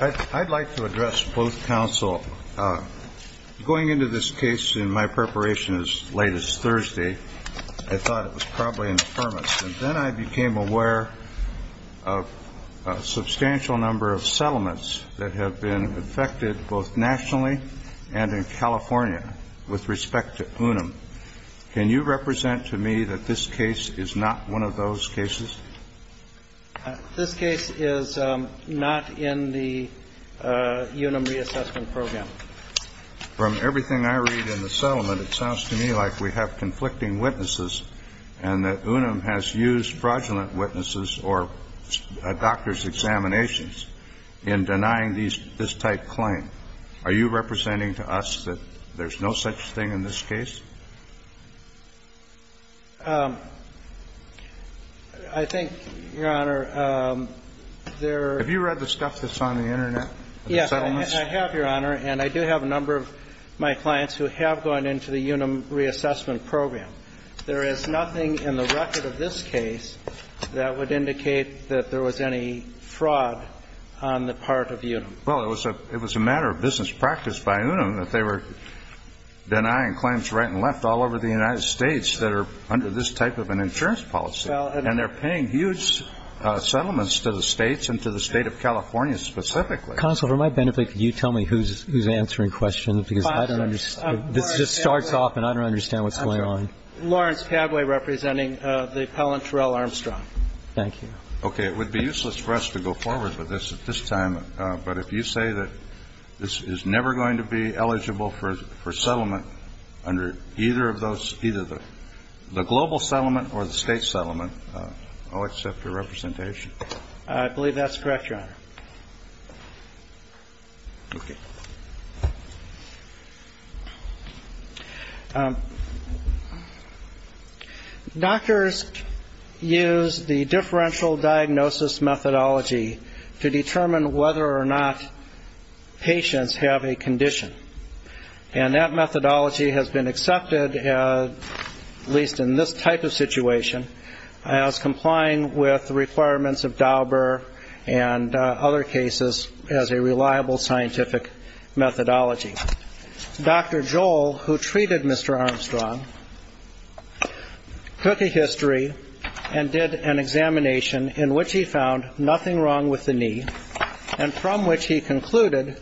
I'd like to address both counsel. Going into this case in my preparation as late as Thursday, I thought it was probably infirmis, and then I became aware of a substantial number of settlements that have been affected both nationally and in California with respect to UNUM. Can you represent to me that this case is not one of those cases? This case is not in the UNUM reassessment program. From everything I read in the settlement, it sounds to me like we have conflicting witnesses and that UNUM has used fraudulent witnesses or doctor's examinations in denying this type claim. Are you representing to us that there's no such thing in this case? I think, Your Honor, there Have you read the stuff that's on the Internet? Yes, I have, Your Honor, and I do have a number of my clients who have gone into the UNUM reassessment program. There is nothing in the record of this case that would indicate that there was any fraud on the part of UNUM. Well, it was a matter of business practice by UNUM that they were denying claims right and left all over the United States that are under this type of an insurance policy. And they're paying huge settlements to the States and to the State of California specifically. Counsel, for my benefit, could you tell me who's answering questions? Because I don't understand. This just starts off, and I don't understand what's going on. Lawrence Padway representing the appellant Terrell Armstrong. Thank you. OK, it would be useless for us to go forward with this at this time, but if you say that this is never going to be eligible for settlement under either of those, either the global settlement or the state settlement, I'll accept your representation. OK. Doctors use the differential diagnosis methodology to determine whether or not patients have a condition, and that methodology has been accepted, at least in this type of situation, as complying with the requirements of Dauber and other cases as a reliable scientific methodology. Dr. Joel, who treated Mr. Armstrong, took a history and did an examination in which he found nothing wrong with the knee, and from which he concluded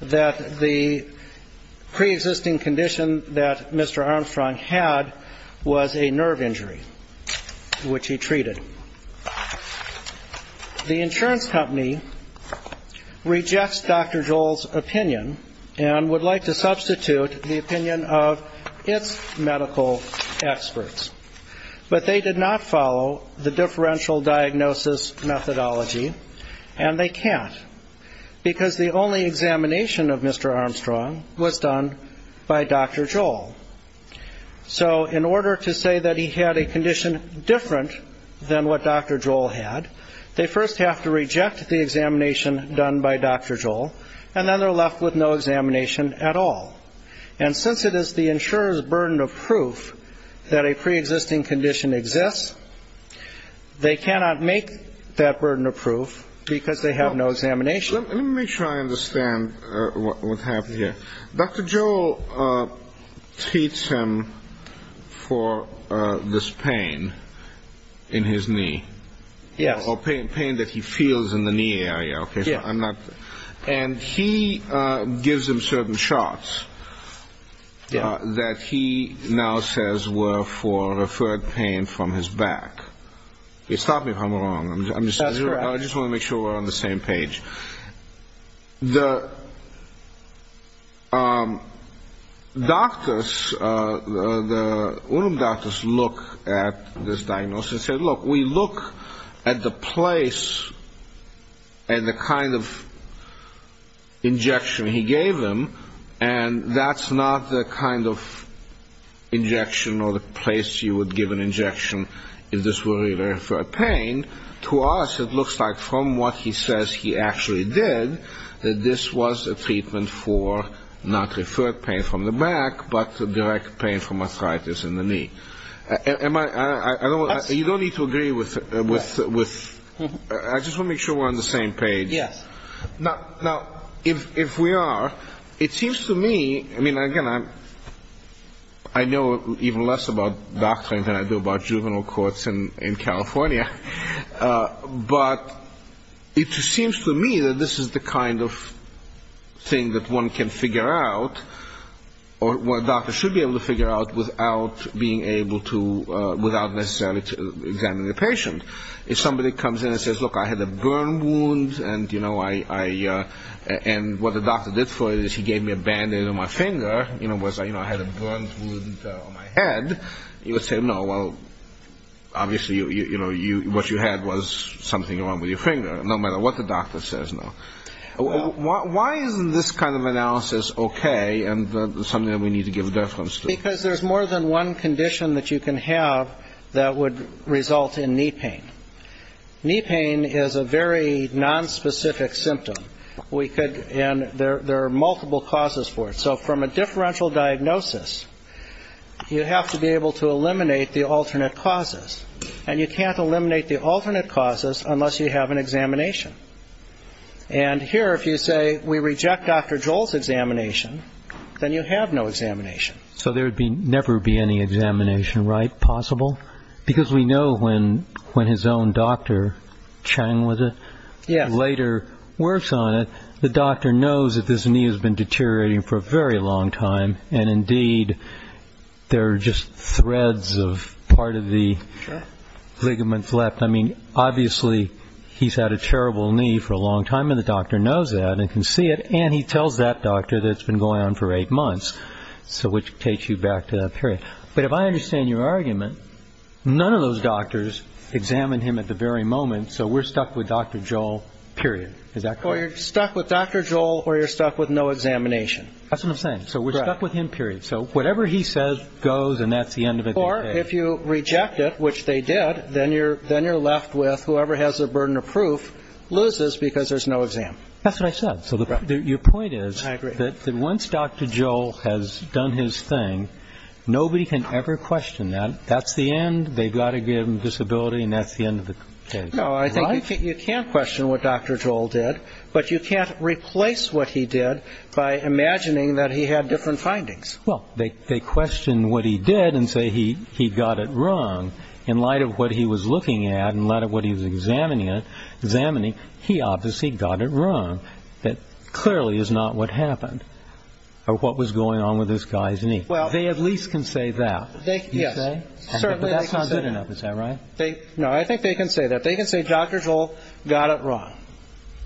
that the preexisting condition that Mr. Armstrong had was a nerve injury, which he treated. The insurance company rejects Dr. Joel's opinion and would like to substitute the opinion of its medical experts, but they did not follow the differential diagnosis methodology, and they can't, because the only examination of Mr. Armstrong was done by Dr. Joel. So in order to say that he had a condition different than what Dr. Joel had, they first have to reject the examination done by Dr. Joel, and then they're left with no examination at all. And since it is the insurer's burden of proof that a preexisting condition exists, they cannot make that burden of proof because they have no examination. Let me make sure I understand what happened here. Dr. Joel treats him for this pain in his knee. Yes. Or pain that he feels in the knee area. And he gives him certain shots that he now says were for referred pain from his back. Stop me if I'm wrong. That's correct. I just want to make sure we're on the same page. The doctors, the UNUM doctors, look at this diagnosis and say, look, we look at the place and the kind of injection he gave him, and that's not the kind of injection or the place you would give an injection if this were referred pain. To us, it looks like from what he says he actually did, that this was a treatment for not referred pain from the back, but direct pain from arthritis in the knee. You don't need to agree with me. I just want to make sure we're on the same page. Yes. Now, if we are, it seems to me, I mean, again, I know even less about doctoring than I do about juvenile courts in California, but it seems to me that this is the kind of thing that one can figure out or a doctor should be able to figure out without being able to, without necessarily examining the patient. If somebody comes in and says, look, I had a burn wound and, you know, and what the doctor did for it is he gave me a band-aid on my finger. You know, I had a burn wound on my head. You would say, no, well, obviously, you know, what you had was something wrong with your finger, no matter what the doctor says, no. Why isn't this kind of analysis okay and something that we need to give reference to? Because there's more than one condition that you can have that would result in knee pain. Knee pain is a very nonspecific symptom. And there are multiple causes for it. So from a differential diagnosis, you have to be able to eliminate the alternate causes, and you can't eliminate the alternate causes unless you have an examination. And here, if you say we reject Dr. Joel's examination, then you have no examination. So there would never be any examination, right, possible? Because we know when his own doctor, Chang was it, later works on it, the doctor knows that this knee has been deteriorating for a very long time, and indeed there are just threads of part of the ligaments left. I mean, obviously, he's had a terrible knee for a long time, and the doctor knows that and can see it, and he tells that doctor that it's been going on for eight months, which takes you back to that period. But if I understand your argument, none of those doctors examined him at the very moment, so we're stuck with Dr. Joel, period. Is that correct? Well, you're stuck with Dr. Joel, or you're stuck with no examination. That's what I'm saying. So we're stuck with him, period. So whatever he says goes, and that's the end of it. Or if you reject it, which they did, then you're left with whoever has the burden of proof loses because there's no exam. That's what I said. So your point is that once Dr. Joel has done his thing, nobody can ever question that. That's the end. They've got to give him disability, and that's the end of the case. No, I think you can't question what Dr. Joel did, but you can't replace what he did by imagining that he had different findings. Well, they question what he did and say he got it wrong. In light of what he was looking at and in light of what he was examining, he obviously got it wrong. That clearly is not what happened or what was going on with this guy's knee. They at least can say that, you say? Yes, certainly they can say that. But that's not good enough, is that right? No, I think they can say that. They can say Dr. Joel got it wrong.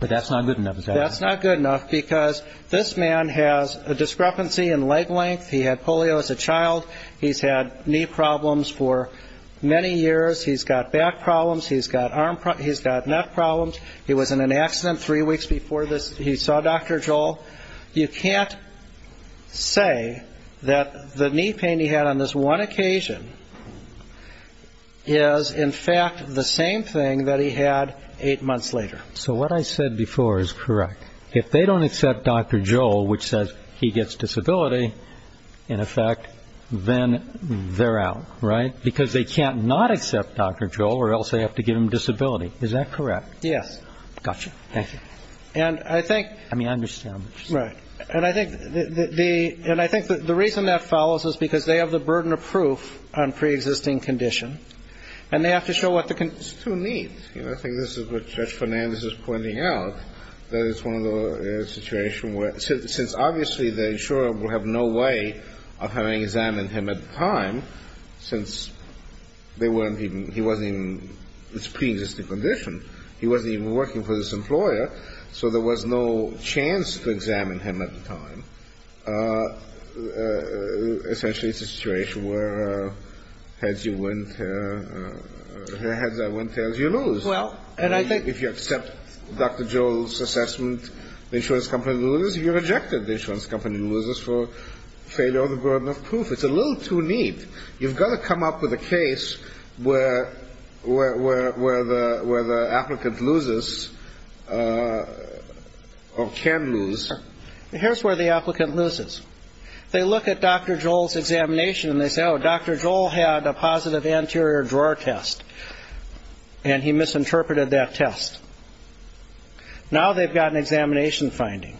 But that's not good enough, is that right? That's not good enough because this man has a discrepancy in leg length. He had polio as a child. He's had knee problems for many years. He's got back problems. He's got neck problems. He was in an accident three weeks before this. He saw Dr. Joel. You can't say that the knee pain he had on this one occasion is, in fact, the same thing that he had eight months later. So what I said before is correct. If they don't accept Dr. Joel, which says he gets disability, in effect, then they're out, right? Because they can't not accept Dr. Joel or else they have to give him disability. Is that correct? Yes. Gotcha. Thank you. I mean, I understand what you're saying. Right. And I think the reason that follows is because they have the burden of proof on preexisting condition, and they have to show what the condition is. It's too neat. I think this is what Judge Fernandez is pointing out, that it's one of those situations where, since obviously the insurer will have no way of having examined him at the time, since he wasn't even in his preexisting condition, he wasn't even working for this employer, so there was no chance to examine him at the time. Essentially, it's a situation where heads are win, tails are lose. And I think if you accept Dr. Joel's assessment, the insurance company loses. If you reject it, the insurance company loses for failure of the burden of proof. It's a little too neat. You've got to come up with a case where the applicant loses or can lose. Here's where the applicant loses. They look at Dr. Joel's examination, and they say, oh, Dr. Joel had a positive anterior drawer test, and he misinterpreted that test. Now they've got an examination finding.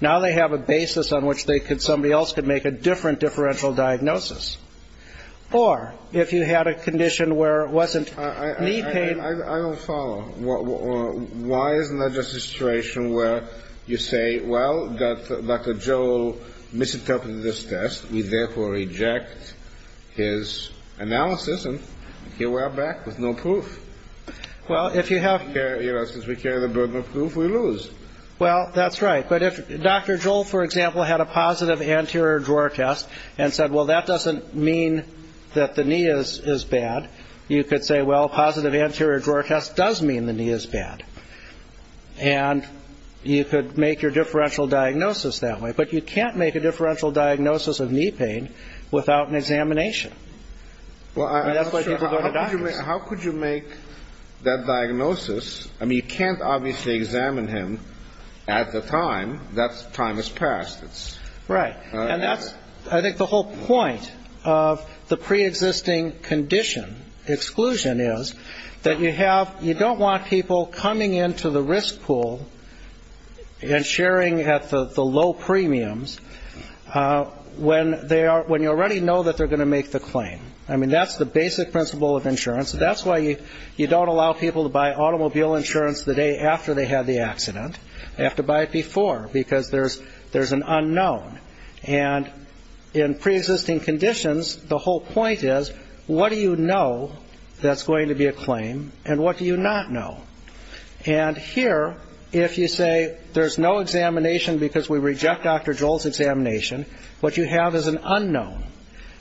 Now they have a basis on which somebody else can make a different differential diagnosis. Or if you had a condition where it wasn't knee pain. I don't follow. Why isn't that just a situation where you say, well, Dr. Joel misinterpreted this test. We therefore reject his analysis, and here we are back with no proof. Well, if you have to carry the burden of proof, we lose. Well, that's right. But if Dr. Joel, for example, had a positive anterior drawer test and said, well, that doesn't mean that the knee is bad, you could say, well, a positive anterior drawer test does mean the knee is bad. And you could make your differential diagnosis that way. But you can't make a differential diagnosis of knee pain without an examination. That's why people go to doctors. How could you make that diagnosis? I mean, you can't obviously examine him at the time. That time has passed. And that's, I think, the whole point of the preexisting condition, exclusion is, that you don't want people coming into the risk pool and sharing at the low premiums when you already know that they're going to make the claim. I mean, that's the basic principle of insurance. That's why you don't allow people to buy automobile insurance the day after they had the accident. They have to buy it before because there's an unknown. And in preexisting conditions, the whole point is, what do you know that's going to be a claim and what do you not know? And here, if you say there's no examination because we reject Dr. Joel's examination, what you have is an unknown,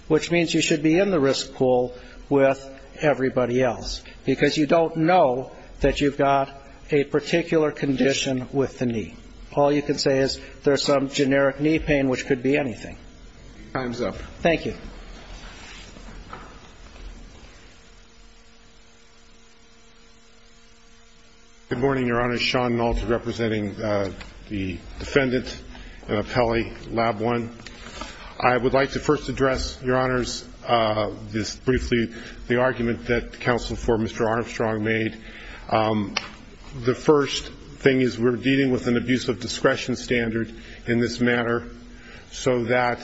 which means you should be in the risk pool with everybody else because you don't know that you've got a particular condition with the knee. All you can say is there's some generic knee pain, which could be anything. Time's up. Thank you. Good morning, Your Honor. Sean Nolte representing the defendant, Pelley, Lab 1. I would like to first address, Your Honors, this briefly, the argument that counsel for Mr. Armstrong made. The first thing is we're dealing with an abuse of discretion standard in this matter so that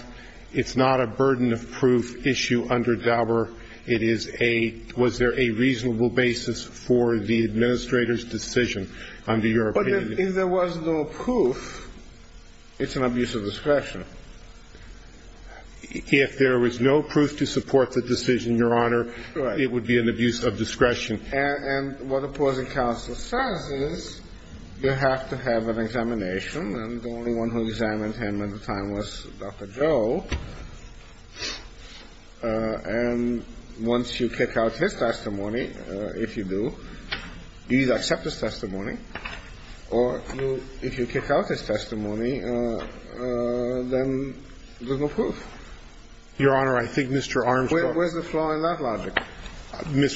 it's not a burden of proof issue under Dauber. It is a, was there a reasonable basis for the administrator's decision under your opinion? But if there was no proof, it's an abuse of discretion. If there was no proof to support the decision, Your Honor, it would be an abuse of discretion. And what opposing counsel says is you have to have an examination. And the only one who examined him at the time was Dr. Joel. And once you kick out his testimony, if you do, you either accept his testimony or if you kick out his testimony, then there's no proof. Your Honor, I think Mr.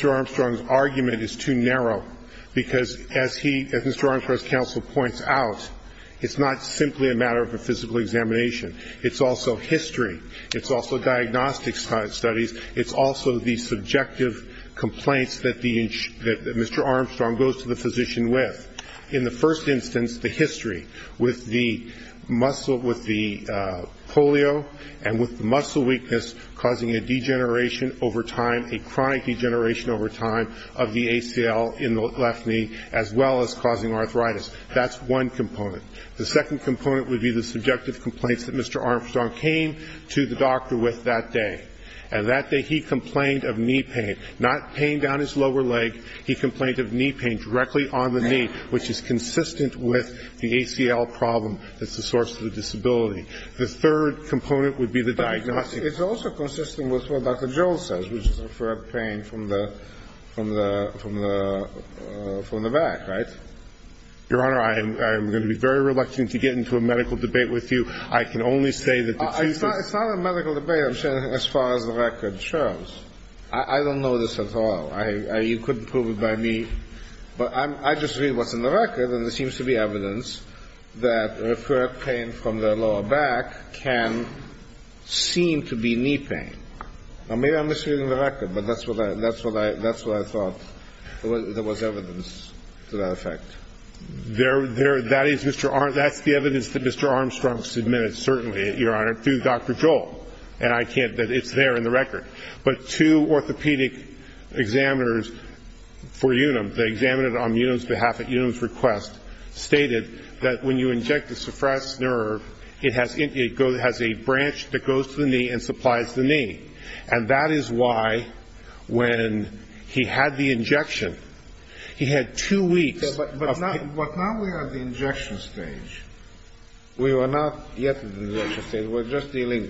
Armstrong's argument is too narrow because as he, as Mr. Armstrong's counsel points out, it's not simply a matter of a physical examination. It's also history. It's also diagnostic studies. It's also the subjective complaints that the, that Mr. Armstrong goes to the physician with. In the first instance, the history with the muscle, with the polio and with the muscle weakness causing a degeneration over time, a chronic degeneration over time of the ACL in the left knee as well as causing arthritis. That's one component. The second component would be the subjective complaints that Mr. Armstrong came to the doctor with that day. And that day he complained of knee pain. Not pain down his lower leg. He complained of knee pain directly on the knee, which is consistent with the ACL problem that's the source of the disability. The third component would be the diagnostic. But it's also consistent with what Dr. Joel says, which is a pain from the back, right? Your Honor, I am going to be very reluctant to get into a medical debate with you. I can only say that the Chief is It's not a medical debate. I'm saying as far as the record shows. I don't know this at all. You couldn't prove it by me. But I just read what's in the record, and there seems to be evidence that recurrent pain from the lower back can seem to be knee pain. Now, maybe I'm misreading the record, but that's what I thought there was evidence to that effect. That's the evidence that Mr. Armstrong submitted, certainly, Your Honor, through Dr. Joel. And I can't. It's there in the record. But two orthopedic examiners for Unum, they examined it on Unum's behalf at Unum's request, stated that when you inject the suppressed nerve, it has a branch that goes to the knee and supplies the knee. And that is why when he had the injection, he had two weeks of pain. But now we are at the injection stage. We are not yet at the injection stage. We're just dealing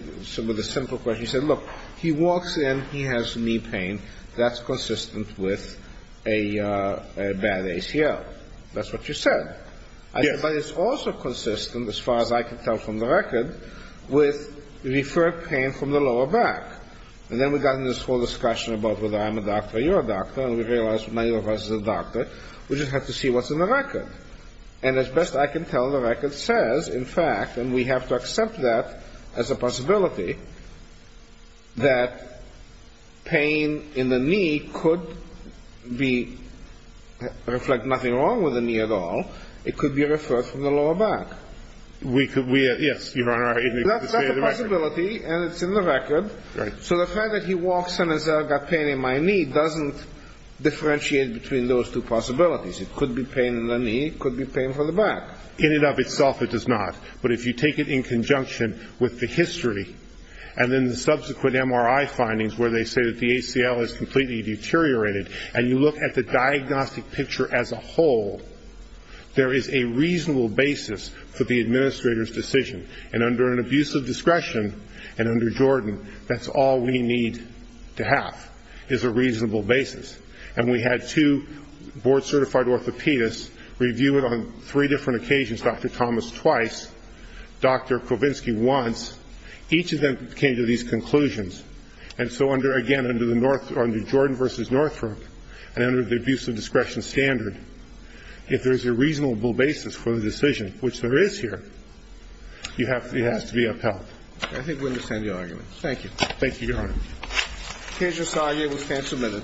with a simple question. You said, look, he walks in, he has knee pain. That's consistent with a bad ACL. That's what you said. Yes. But it's also consistent, as far as I can tell from the record, with recurrent pain from the lower back. And then we got into this whole discussion about whether I'm a doctor or you're a doctor, and we realized neither of us is a doctor. We just have to see what's in the record. And as best I can tell, the record says, in fact, and we have to accept that as a possibility, that pain in the knee could reflect nothing wrong with the knee at all. Yes, Your Honor. That's a possibility, and it's in the record. So the fact that he walks in and says, I've got pain in my knee, doesn't differentiate between those two possibilities. It could be pain in the knee. It could be pain from the back. In and of itself, it does not. But if you take it in conjunction with the history and then the subsequent MRI findings where they say that the ACL has completely deteriorated, and you look at the diagnostic picture as a whole, there is a reasonable basis for the administrator's decision. And under an abuse of discretion and under Jordan, that's all we need to have is a reasonable basis. And we had two board-certified orthopedists review it on three different occasions, Dr. Thomas twice, Dr. Kovinsky once. Each of them came to these conclusions. And so, again, under Jordan v. Northrop and under the abuse of discretion standard, if there is a reasonable basis for the decision, which there is here, it has to be upheld. I think we understand the argument. Thank you. Thank you, Your Honor. Keisha Sawyer will stand submitted.